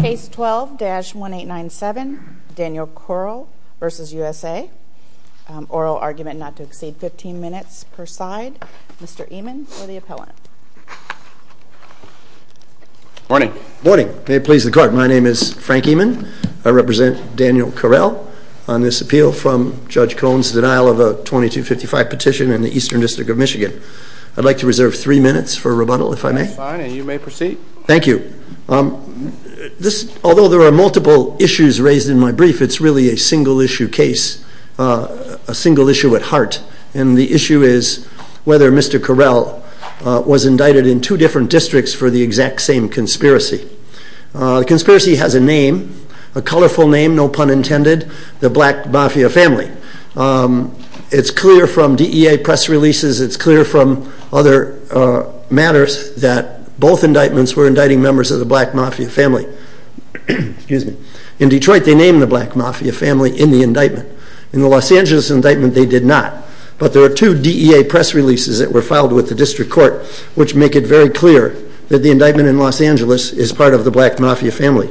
Case 12-1897, Daniel Corral v. USA. Oral argument not to exceed 15 minutes per side. Mr. Eman for the appellant. Morning. Morning. May it please the Court. My name is Frank Eman. I represent Daniel Corral on this appeal from Judge Cohen's denial of a 2255 petition in the Eastern District of Michigan. I'd like to reserve three minutes for rebuttal, if I may. That's fine, and you may proceed. Thank you. Although there are multiple issues raised in my brief, it's really a single-issue case, a single issue at heart, and the issue is whether Mr. Corral was indicted in two different districts for the exact same conspiracy. The conspiracy has a name, a colorful name, no pun intended, the Black Mafia family. It's clear from DEA press releases, it's clear from other matters that both indictments were indicting members of the Black Mafia family. In Detroit, they named the Black Mafia family in the indictment. In the Los Angeles indictment, they did not. But there are two DEA press releases that were filed with the District Court, which make it very clear that the indictment in Los Angeles is part of the Black Mafia family.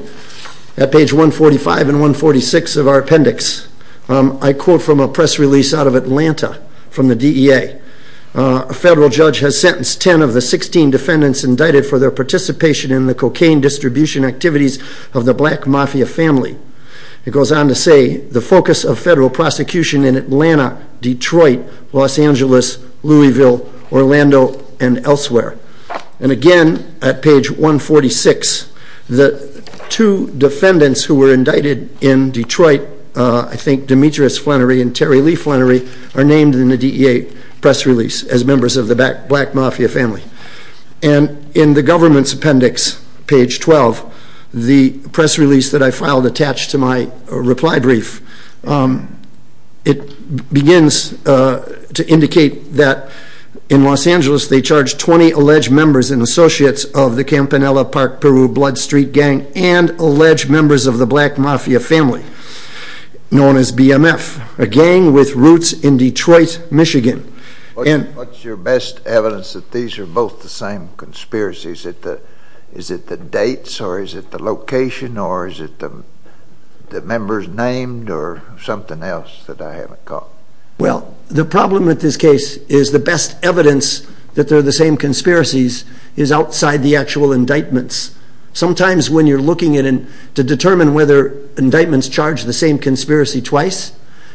At page 145 and 146 of our appendix, I quote from a press release out of Atlanta from the DEA, a federal judge has sentenced 10 of the 16 defendants indicted for their participation in the cocaine distribution activities of the Black Mafia family. It goes on to say, the focus of federal prosecution in Atlanta, Detroit, Los Angeles, Louisville, Orlando, and elsewhere. And again, at page 146, the two defendants who were indicted in Detroit, I think Demetrius Flannery and Terry Lee Flannery, are named in the DEA press release as members of the Black Mafia family. And in the government's appendix, page 12, the press release that I filed attached to my reply brief, it begins to indicate that in Los Angeles, they charged 20 alleged members and associates of the Campanella Park, Peru, Blood Street gang and alleged members of the Black Mafia family, known as BMF, a gang with roots in Detroit, Michigan. What's your best evidence that these are both the same conspiracies? Is it the dates or is it the members named or something else that I haven't caught? Well, the problem with this case is the best evidence that they're the same conspiracies is outside the actual indictments. Sometimes when you're looking at it to determine whether indictments charge the same conspiracy twice,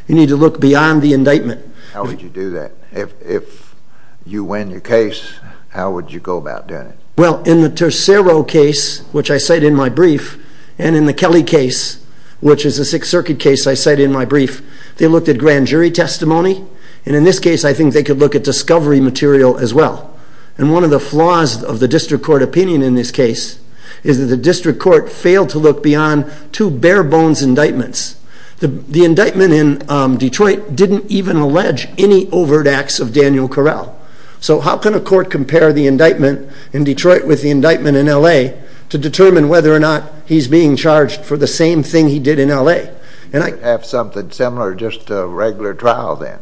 you need to look beyond the indictment. How would you do that? If you win your case, how would you go about doing it? Well, in the Tercero case, which I cite in my brief, and in the Kelly case, which is a Sixth Circuit case I cite in my brief, they looked at grand jury testimony. And in this case, I think they could look at discovery material as well. And one of the flaws of the district court opinion in this case is that the district court failed to look beyond two bare bones indictments. The indictment in Detroit didn't even allege any overt acts of Daniel Correll. So how can a court compare the indictment in Detroit with the indictment in L.A. to determine whether or not he's being charged for the same thing he did in L.A.? You would have something similar just to a regular trial then.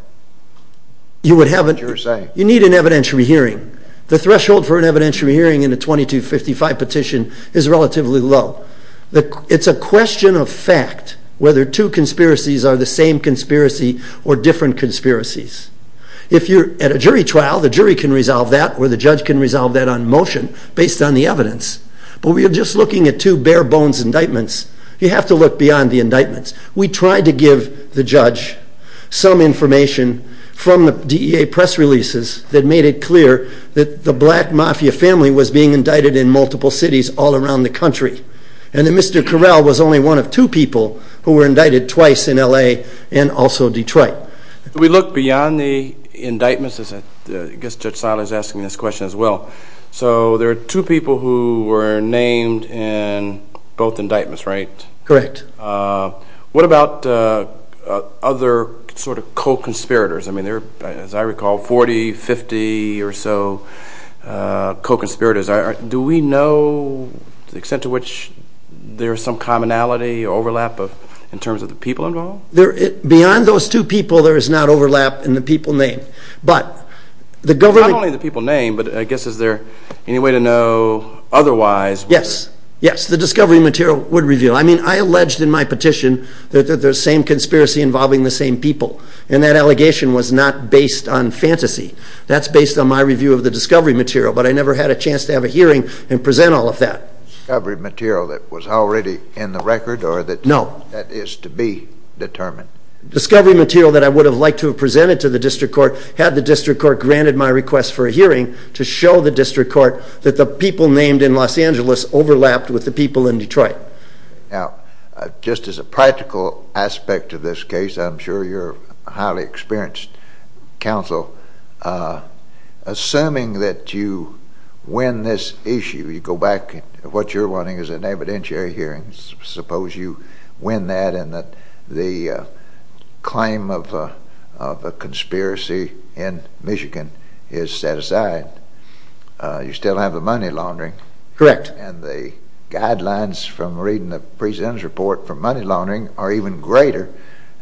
You would have a... What you're saying. You need an evidentiary hearing. The threshold for an evidentiary hearing in a 2255 petition is relatively low. It's a question of fact whether two conspiracies are the same conspiracy or different conspiracies. If you're at a jury trial, the jury can resolve that or the judge can resolve that on motion based on the evidence. But we are just looking at two bare bones indictments. You have to look beyond the indictments. We tried to give the judge some information from the DEA press releases that made it clear that the black mafia family was being indicted in multiple cities all around the country. And that Mr. Correll was only one of two people who were indicted twice in L.A. and also Detroit. We look beyond the indictments. I guess Judge Silas is asking this question as well. So there are two people who were named in both indictments, right? Correct. What about other sort of co-conspirators? I mean, there are, as I recall, 40, 50 or so co-conspirators. Do we know the extent to which there is some commonality or overlap in terms of the people involved? Beyond those two people, there is not overlap in the people named. But not only the people named, but I guess, is there any way to know otherwise? Yes. Yes, the discovery material would reveal. I mean, I alleged in my petition that there's same conspiracy involving the same people. And that allegation was not based on fantasy. That's based on my review of the discovery material, but I never had a chance to have a hearing and present all of that. Discovery material that was already in the record or that... No. That is to be determined. Discovery material that I would have liked to have presented to the district court had the district court granted my request for a hearing to show the district court that the people named in Los Angeles overlapped with the people in Detroit. Now, just as a practical aspect of this case, I'm sure you're a highly experienced counsel. Assuming that you win this issue, you go back, what you're wanting is an evidentiary hearing. Suppose you win that and that the claim of a conspiracy in Michigan is set aside. You still have the money laundering. Correct. And the guidelines from reading the president's report for money laundering are even greater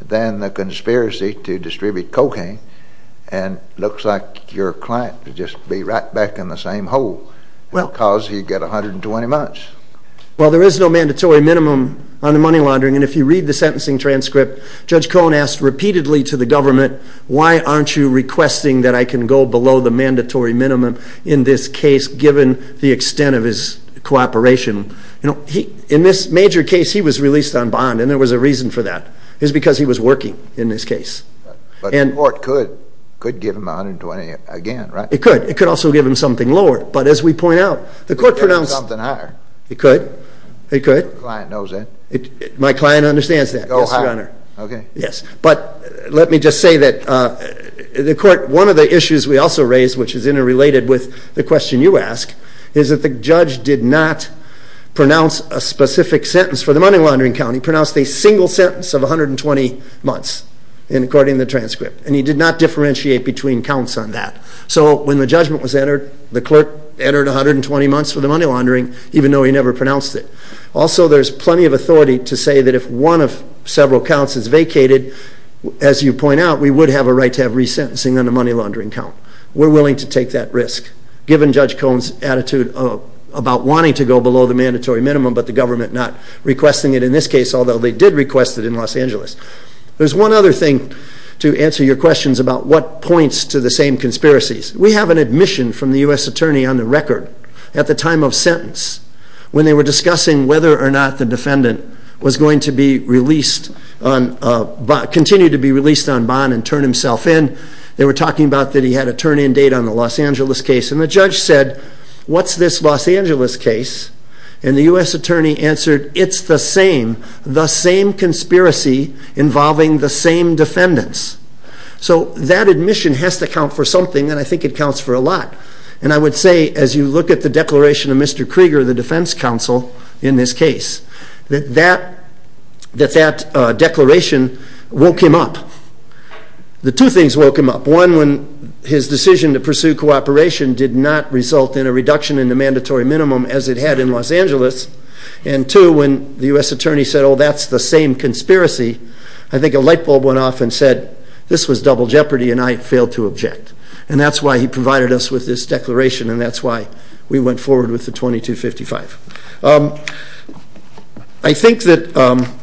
than the conspiracy to distribute cocaine. And looks like your client would just be right back in the same hole because he'd get 120 months. Well, there is no mandatory minimum on the money laundering. And if you read the sentencing transcript, Judge Cohen asked repeatedly to the government, why aren't you requesting that I can go below the mandatory minimum in this case, given the extent of his cooperation? In this major case, he was released on bond. And there was a reason for that. It's because he was working in this case. But the court could give him 120 again, right? It could. It could also give him something lower. But as we point out, the court pronounced... It could. It could. Your client knows that. My client understands that, yes, Your Honor. Okay. Yes. But let me just say that the court... One of the issues we also raised, which is interrelated with the question you ask, is that the judge did not pronounce a specific sentence for the money laundering count. He pronounced a single sentence of 120 months according to the transcript. And he did not differentiate between counts on that. So when the judgment was entered, the clerk entered 120 months for the money laundering, even though he never pronounced it. Also, there's plenty of authority to say that if one of several counts is vacated, as you point out, we would have a right to have resentencing on the money laundering count. We're willing to take that risk, given Judge Cone's attitude about wanting to go below the mandatory minimum, but the government not requesting it in this case, although they did request it in Los Angeles. There's one other thing to answer your questions about what points to the same conspiracies. We have an admission from the U.S. attorney on the record, at the time of sentence, when they were discussing whether or not the defendant was going to be released, continue to be released on bond and turn himself in. They were talking about that he had a turn in date on the Los Angeles case. And the judge said, what's this Los Angeles case? And the U.S. attorney answered, it's the same, the same conspiracy involving the same defendants. So that admission has to count for something, and I think it counts for a lot. And I would say, as you look at the declaration of Mr. Krieger, the defense counsel in this case, that that declaration woke him up. The two things woke him up. One, when his decision to pursue cooperation did not result in a reduction in the mandatory minimum, as it had in Los Angeles. And two, when the U.S. attorney said, oh, that's the same conspiracy. I think a light bulb went off and said, this was double jeopardy, and I failed to object. And that's why he provided us with this declaration, and that's why we went forward with the 2255. I think that,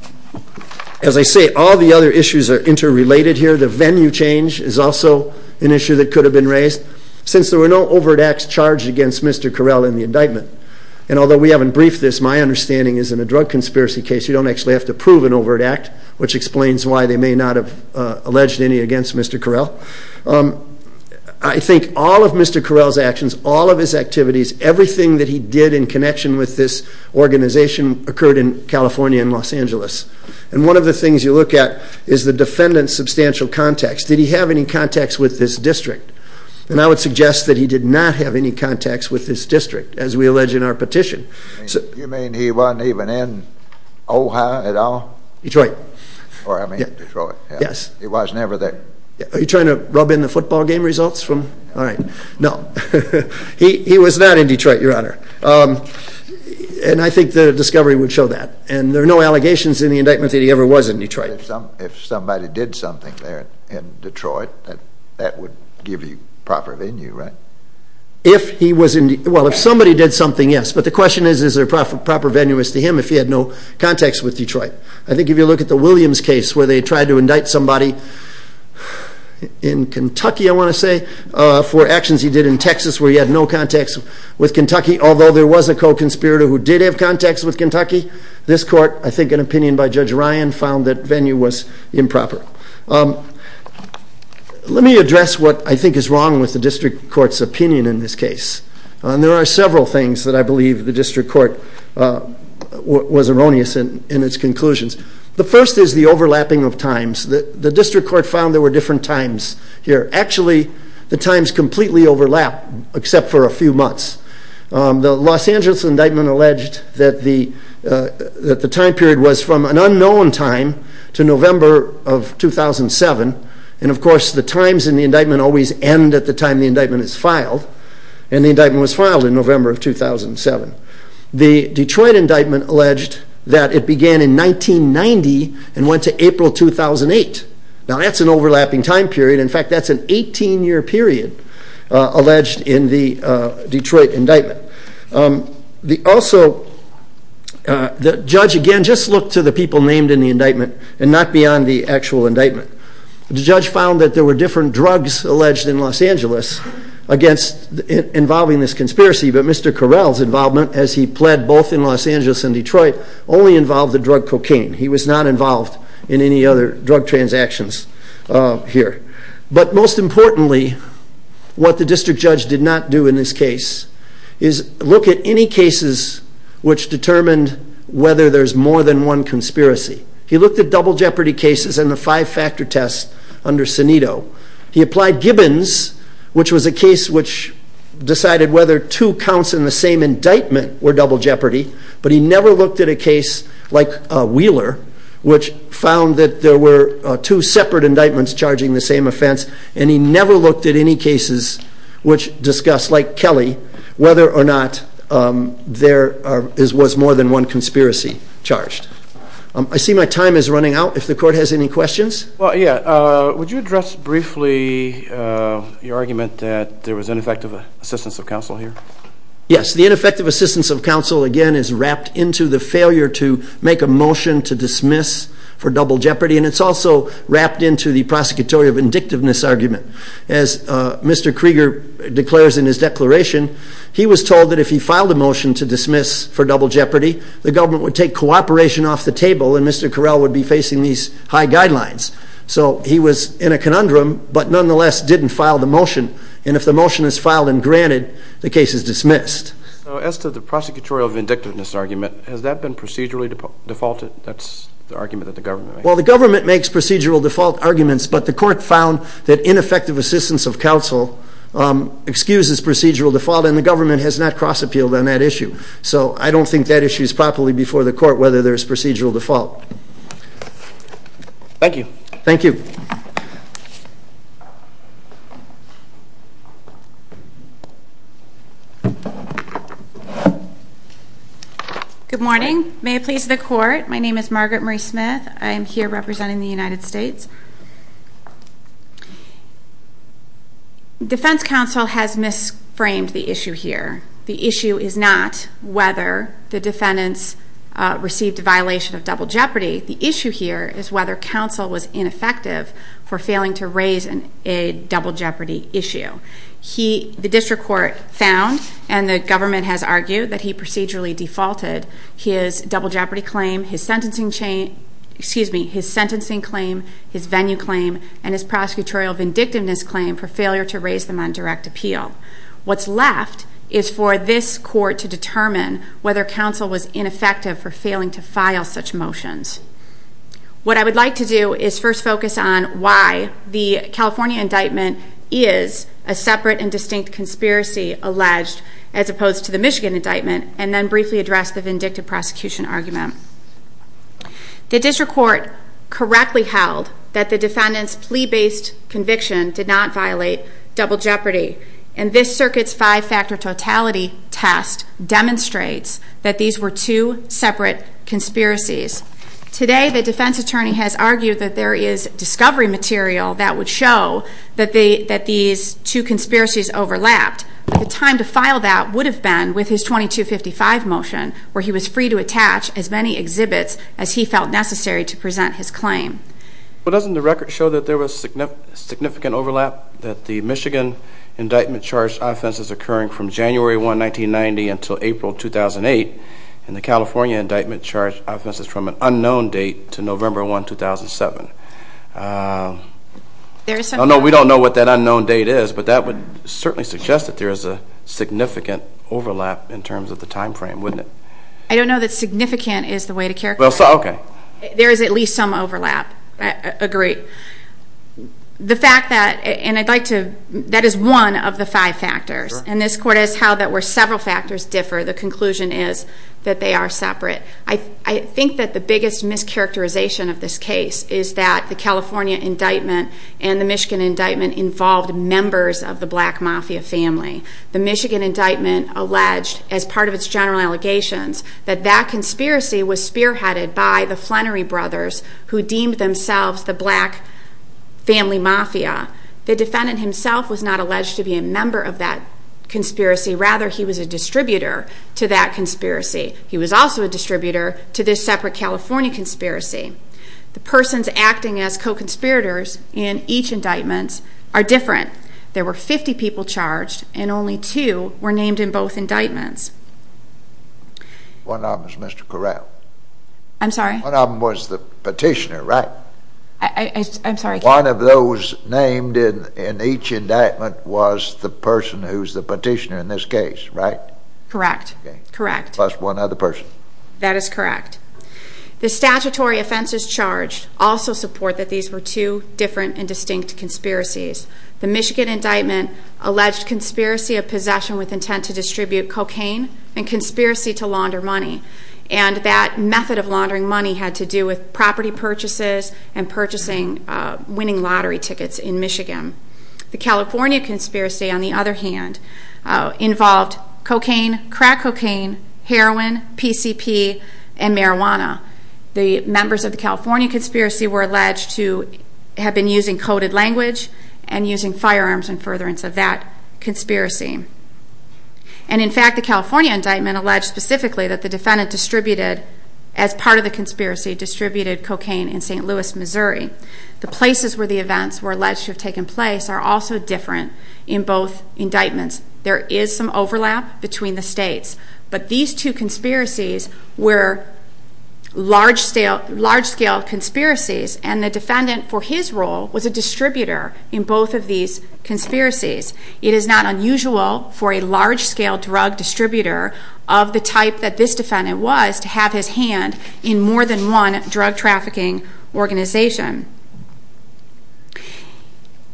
as I say, all the other issues are interrelated here. The venue change is also an issue that could have been raised, since there were no overt acts charged against Mr. Carell in the indictment. And although we haven't briefed this, my understanding is in a drug conspiracy case, you don't actually have to prove an overt act. Which explains why they may not have alleged any against Mr. Carell. I think all of Mr. Carell's actions, all of his activities, everything that he did in connection with this organization, occurred in California and Los Angeles. And one of the things you look at is the defendant's substantial context. Did he have any context with this district? And I would suggest that he did not have any context with this district, as we allege in our petition. You mean he wasn't even in Ohio at all? Detroit. Or I mean Detroit. Yes. He was never there. Are you trying to rub in the football game results from... All right. No. He was not in Detroit, Your Honor. And I think the discovery would show that. And there are no allegations in the indictment that he ever was in Detroit. If somebody did something there in Detroit, that would give you proper venue, right? If he was in... Well, if somebody did something, yes. But the question is, is there a proper venue as to him if he had no context with Detroit? I think if you look at the Williams case, where they tried to indict somebody in Kentucky, I want to say, for actions he did in Texas where he had no context with Kentucky, although there was a co-conspirator who did have context with Kentucky, this court, I think an opinion by Judge Ryan, found that venue was improper. Let me address what I think is wrong with the district court's opinion in this case. There are several things that I believe the district court was erroneous in its conclusions. The first is the overlapping of times. The district court found there were different times here. Actually, the times completely overlap, except for a few months. The Los Angeles indictment alleged that the time period was from an unknown time to November of 2007. And of course, the times in the indictment always end at the time the indictment is filed. And the indictment was filed in November of 2007. The Detroit indictment alleged that it began in 1990 and went to April 2008. Now, that's an overlapping time period. In fact, that's an 18-year period alleged in the Detroit indictment. Also, the judge, again, just looked to the people named in the indictment and not beyond the actual indictment. The judge found that there were different drugs alleged in Los Angeles involving this conspiracy. But Mr. Correll's involvement, as he pled both in Los Angeles and Detroit, only involved the drug cocaine. He was not involved in any other drug transactions here. But most importantly, what the district judge did not do in this case is look at any cases which determined whether there's more than one conspiracy. He looked at double jeopardy cases and the five-factor test under Sanito. He applied Gibbons, which was a case which decided whether two counts in the same indictment were double jeopardy. But he never looked at a case like Wheeler, which found that there were two separate indictments charging the same offense. And he never looked at any cases which discussed, like Kelly, whether or not there was more than one conspiracy charged. I see my time is running out. If the court has any questions? Well, yeah, would you address briefly your argument that there was ineffective assistance of counsel here? Yes, the ineffective assistance of counsel, again, is wrapped into the failure to make a motion to dismiss for double jeopardy. And it's also wrapped into the prosecutorial vindictiveness argument. As Mr. Krieger declares in his declaration, he was told that if he filed a motion to dismiss for double jeopardy, the government would take cooperation off the table and Mr. Correll would be facing these high guidelines. So he was in a conundrum, but nonetheless didn't file the motion. And if the motion is filed and granted, the case is dismissed. So as to the prosecutorial vindictiveness argument, has that been procedurally defaulted? That's the argument that the government makes. Well, the government makes procedural default arguments, but the court found that ineffective assistance of counsel excuses procedural default, and the government has not cross-appealed on that issue. So I don't think that issue is properly before the court, whether there's procedural default. Thank you. Thank you. Good morning. May it please the court. My name is Margaret Marie Smith. I am here representing the United States. Defense counsel has misframed the issue here. The issue is not whether the defendants received a violation of double jeopardy. The issue here is whether counsel was ineffective for failing to raise a double jeopardy issue. The district court found, and the government has argued, that he procedurally defaulted his double jeopardy claim, his sentencing claim, his venue claim, and his prosecutorial vindictiveness claim for failure to raise them on direct appeal. Whether counsel was ineffective for failing to file such motions. What I would like to do is first focus on why the California indictment is a separate and distinct conspiracy alleged, as opposed to the Michigan indictment, and then briefly address the vindictive prosecution argument. The district court correctly held that the defendant's plea-based conviction did not violate double jeopardy, and this circuit's five-factor totality test demonstrates that these were two separate conspiracies. Today, the defense attorney has argued that there is discovery material that would show that these two conspiracies overlapped. But the time to file that would have been with his 2255 motion, where he was free to attach as many exhibits as he felt necessary to present his claim. But doesn't the record show that there was significant overlap, that the Michigan indictment charged offenses occurring from January 1, 1990 until April 2008, and the California indictment charged offenses from an unknown date to November 1, 2007? No, we don't know what that unknown date is, but that would certainly suggest that there is a significant overlap in terms of the time frame, wouldn't it? I don't know that significant is the way to characterize it. Okay. There is at least some overlap. I agree. The fact that, and I'd like to, that is one of the five factors, and this court is how that where several factors differ, the conclusion is that they are separate. I think that the biggest mischaracterization of this case is that the California indictment and the Michigan indictment involved members of the black mafia family. The Michigan indictment alleged, as part of its general allegations, that that conspiracy was spearheaded by the Flannery brothers, who deemed themselves the black family mafia. The defendant himself was not alleged to be a member of that conspiracy. Rather, he was a distributor to that conspiracy. He was also a distributor to this separate California conspiracy. The persons acting as co-conspirators in each indictment are different. There were 50 people charged, and only two were named in both indictments. One of them was Mr. Corral. I'm sorry? One of them was the petitioner, right? I'm sorry. One of those named in each indictment was the person who's the petitioner in this case, right? Correct. Correct. Plus one other person. That is correct. The statutory offenses charged also support that these were two different and distinct conspiracies. The Michigan indictment alleged conspiracy of possession with intent to distribute cocaine and conspiracy to launder money. And that method of laundering money had to do with property purchases and purchasing winning lottery tickets in Michigan. The California conspiracy, on the other hand, involved cocaine, crack cocaine, heroin, PCP, and marijuana. The members of the California conspiracy were alleged to have been using coded language and using firearms in furtherance of that conspiracy. And in fact, the California indictment alleged specifically that the defendant distributed, as part of the conspiracy, distributed cocaine in St. Louis, Missouri. The places where the events were alleged to have taken place are also different in both indictments. There is some overlap between the states, but these two conspiracies were large-scale conspiracies, and the defendant, for his role, was a distributor in both of these conspiracies. It is not unusual for a large-scale drug distributor of the type that this defendant was to have his hand in more than one drug trafficking organization.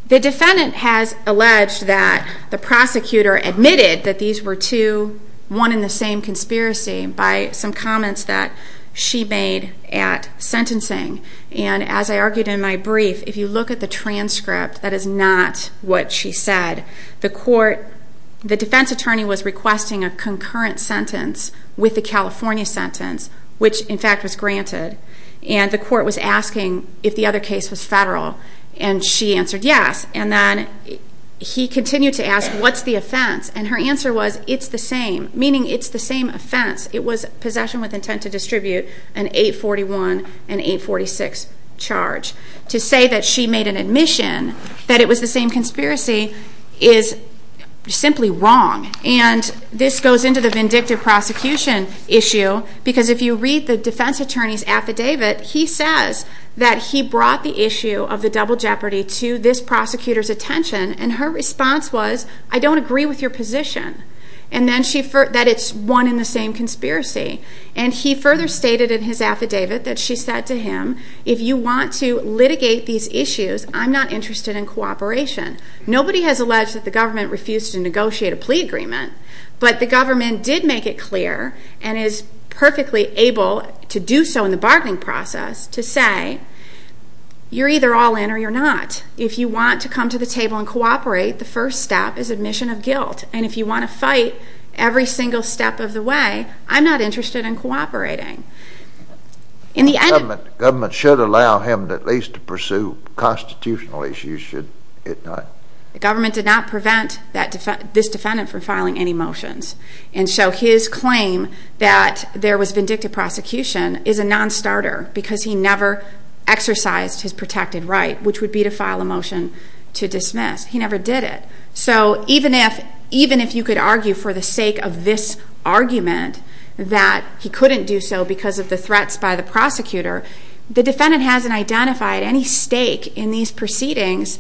The defendant has alleged that the prosecutor admitted that these were two, one and the same conspiracy by some comments that she made at sentencing. And as I argued in my brief, if you look at the transcript, that is not what she said. The defense attorney was requesting a concurrent sentence with the California sentence, which, in fact, was granted. And the court was asking if the other case was federal, and she answered yes. And then he continued to ask, what's the offense? And her answer was, it's the same, meaning it's the same offense. It was possession with intent to distribute an 841 and 846 charge. To say that she made an admission that it was the same conspiracy is simply wrong. And this goes into the vindictive prosecution issue, because if you read the defense attorney's affidavit, he says that he brought the issue of the double jeopardy to this prosecutor's attention, and her response was, I don't agree with your position. And then she, that it's one and the same conspiracy. And he further stated in his affidavit that she said to him, if you want to litigate these issues, I'm not interested in cooperation. Nobody has alleged that the government refused to negotiate a plea agreement, but the government did make it clear and is perfectly able to do so in the bargaining process to say, you're either all in or you're not. If you want to come to the table and cooperate, the first step is admission of guilt. And if you want to fight every single step of the way, I'm not interested in cooperating. The government should allow him at least to pursue constitutional issues, should it not? The government did not prevent this defendant from filing any motions. And so his claim that there was vindictive prosecution is a non-starter, because he never exercised his protected right, which would be to file a motion to dismiss. He never did it. So even if you could argue for the sake of this argument that he couldn't do so because of the threats by the prosecutor, the defendant hasn't identified any stake in these proceedings,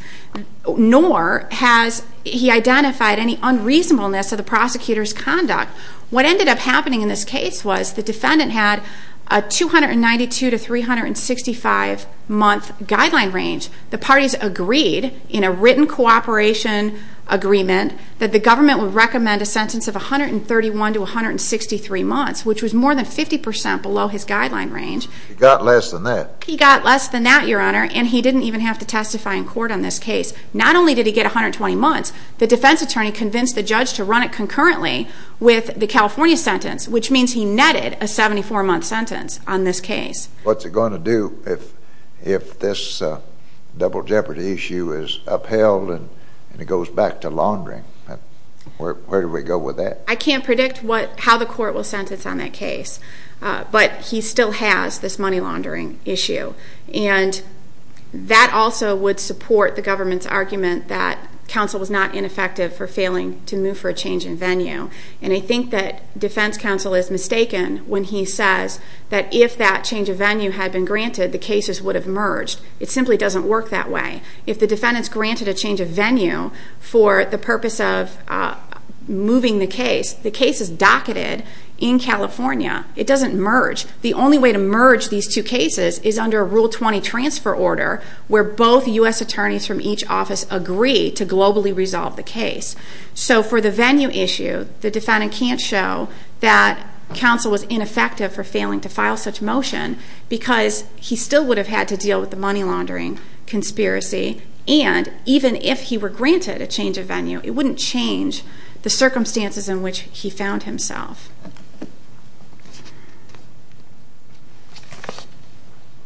nor has he identified any unreasonableness of the prosecutor's conduct. What ended up happening in this case was the defendant had a 292 to 365-month guideline range. The parties agreed in a written cooperation agreement that the government would recommend a sentence of 131 to 163 months, which was more than 50 percent below his guideline range. He got less than that. He got less than that, Your Honor, and he didn't even have to testify in court on this case. Not only did he get 120 months, the defense attorney convinced the judge to run it concurrently with the California sentence, which means he netted a 74-month sentence on this case. What's it going to do if this double jeopardy issue is upheld and it goes back to laundering? Where do we go with that? I can't predict how the court will sentence on that case, but he still has this money laundering issue, and that also would support the government's argument that counsel was not ineffective for failing to move for a change in venue, and I think that defense counsel is mistaken when he says that if that change of venue had been granted, the cases would have merged. It simply doesn't work that way. If the defendant's granted a change of venue for the purpose of moving the case, the case is docketed in California. It doesn't merge. The only way to merge these two cases is under a Rule 20 transfer order where both U.S. attorneys from each office agree to globally resolve the case. So for the venue issue, the defendant can't show that counsel was ineffective for failing to file such motion because he still would have had to deal with the money laundering conspiracy, and even if he were granted a change of venue, it wouldn't change the circumstances in which he found himself.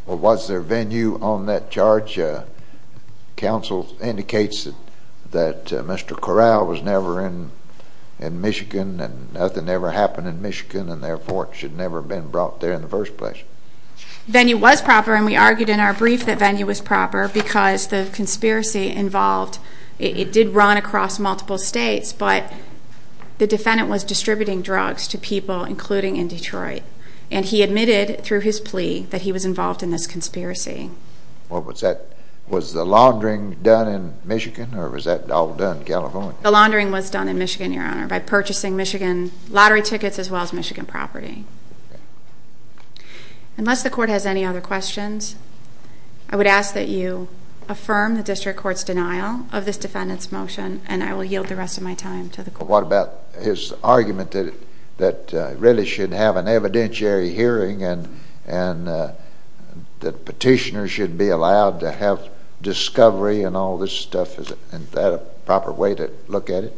Well, was there venue on that charge? Counsel indicates that Mr. Corral was never in Michigan, and nothing ever happened in Michigan, and therefore it should never have been brought there in the first place. Venue was proper, and we argued in our brief that venue was proper because the conspiracy involved, it did run across multiple states, but the defendant was distributing drugs to people, including in Detroit, and he admitted through his plea that he was involved in this conspiracy. What was that? Was the laundering done in Michigan, or was that all done in California? The laundering was done in Michigan, Your Honor, by purchasing Michigan lottery tickets as well as Michigan property. Unless the court has any other questions, I would ask that you affirm the district court's denial of this defendant's motion, and I will yield the rest of my time to the court. What about his argument that it really should have an evidentiary hearing, and that petitioners should be allowed to have discovery and all this stuff? Is that a proper way to look at it?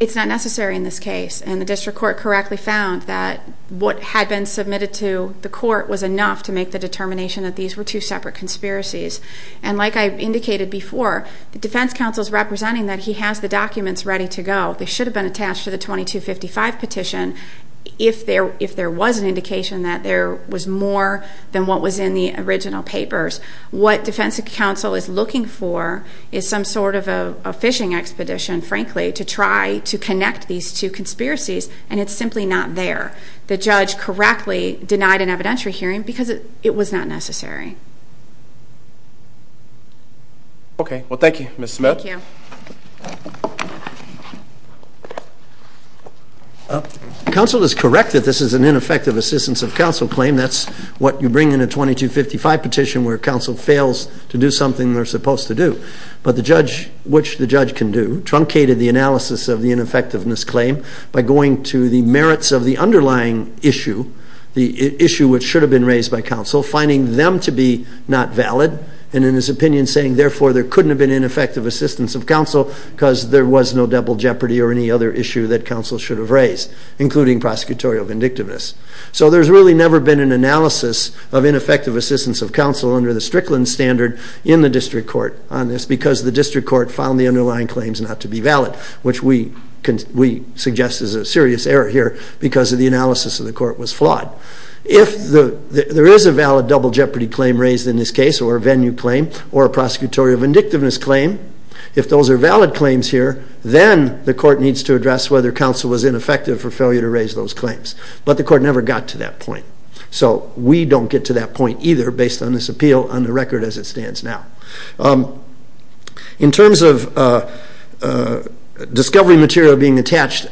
It's not necessary in this case, and the district court correctly found that what had been submitted to the court was enough to make the determination that these were two separate conspiracies. And like I indicated before, the defense counsel's representing that he has the documents ready to go. They should have been attached to the 2255 petition if there was an indication that there was more than what was in the original papers. What defense counsel is looking for is some sort of a fishing expedition, frankly, to try to connect these two conspiracies, and it's simply not there. The judge correctly denied an evidentiary hearing because it was not necessary. Okay. Well, thank you, Ms. Smith. Counsel is correct that this is an ineffective assistance of counsel claim. That's what you bring in a 2255 petition where counsel fails to do something they're supposed to do. But the judge, which the judge can do, truncated the analysis of the ineffectiveness claim by going to the merits of the underlying issue, the issue which should have been raised by counsel, finding them to be not valid, and in his opinion saying, therefore, there couldn't have been ineffective assistance of counsel because there was no double jeopardy or any other issue that counsel should have raised, including prosecutorial vindictiveness. So there's really never been an analysis of ineffective assistance of counsel under the Strickland standard in the district court on this because the district court found the underlying claims not to be valid, which we suggest is a serious error here because of the analysis of the court was flawed. If there is a valid double jeopardy claim raised in this case, or a venue claim, or a prosecutorial vindictiveness claim, if those are valid claims here, then the court needs to address whether counsel was ineffective for failure to raise those claims. But the court never got to that point. So we don't get to that point either based on this appeal on the record as it stands now. In terms of discovery material being attached,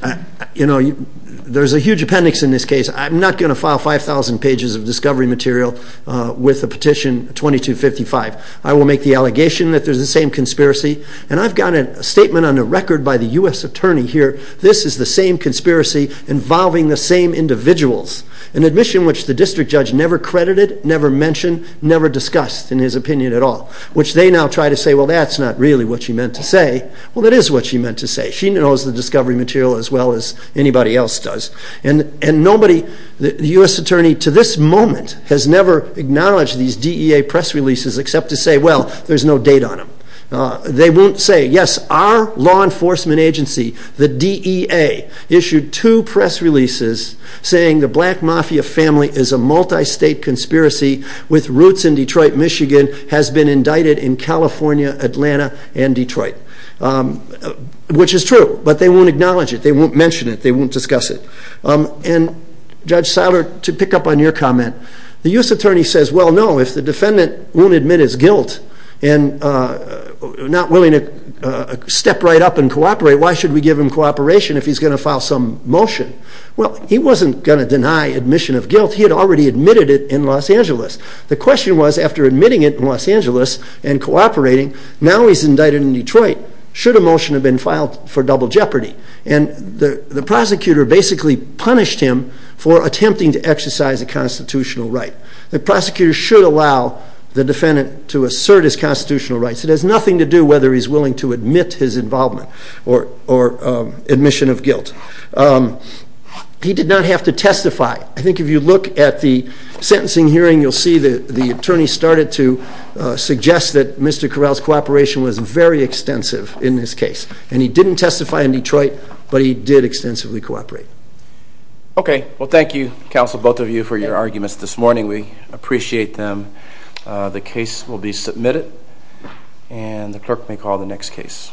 there's a huge appendix in this case. I'm not going to file 5,000 pages of discovery material with the petition 2255. I will make the allegation that there's the same conspiracy, and I've got a statement on a record by the U.S. attorney here. This is the same conspiracy involving the same individuals. An admission which the district judge never credited, never mentioned, never discussed in his opinion at all. Which they now try to say, well, that's not really what she meant to say. Well, it is what she meant to say. She knows the discovery material as well as anybody else does. And nobody, the U.S. attorney to this moment, has never acknowledged these DEA press releases except to say, well, there's no date on them. They won't say, yes, our law enforcement agency, the DEA, issued two press releases saying the black mafia family is a multi-state conspiracy with roots in Detroit, Michigan, has been indicted in California, Atlanta, and Detroit. Which is true, but they won't acknowledge it. They won't mention it. They won't discuss it. And Judge Seiler, to pick up on your comment, the U.S. attorney says, well, no, if the defendant won't admit his guilt and not willing to step right up and cooperate, why should we give him cooperation if he's going to file some motion? Well, he wasn't going to deny admission of guilt. He had already admitted it in Los Angeles. The question was, after admitting it in Los Angeles and cooperating, now he's indicted in Detroit. Should a motion have been filed for double jeopardy? And the prosecutor basically punished him for attempting to exercise a constitutional right. The prosecutor should allow the defendant to assert his constitutional rights. It has nothing to do whether he's willing to admit his involvement or admission of guilt. He did not have to testify. I think if you look at the sentencing hearing, you'll see that the attorney started to suggest that Mr. Corral's cooperation was very extensive in this case. And he didn't testify in Detroit, but he did extensively cooperate. Okay. Well, thank you, counsel, both of you, for your arguments this morning. We appreciate them. The case will be submitted, and the clerk may call the next case.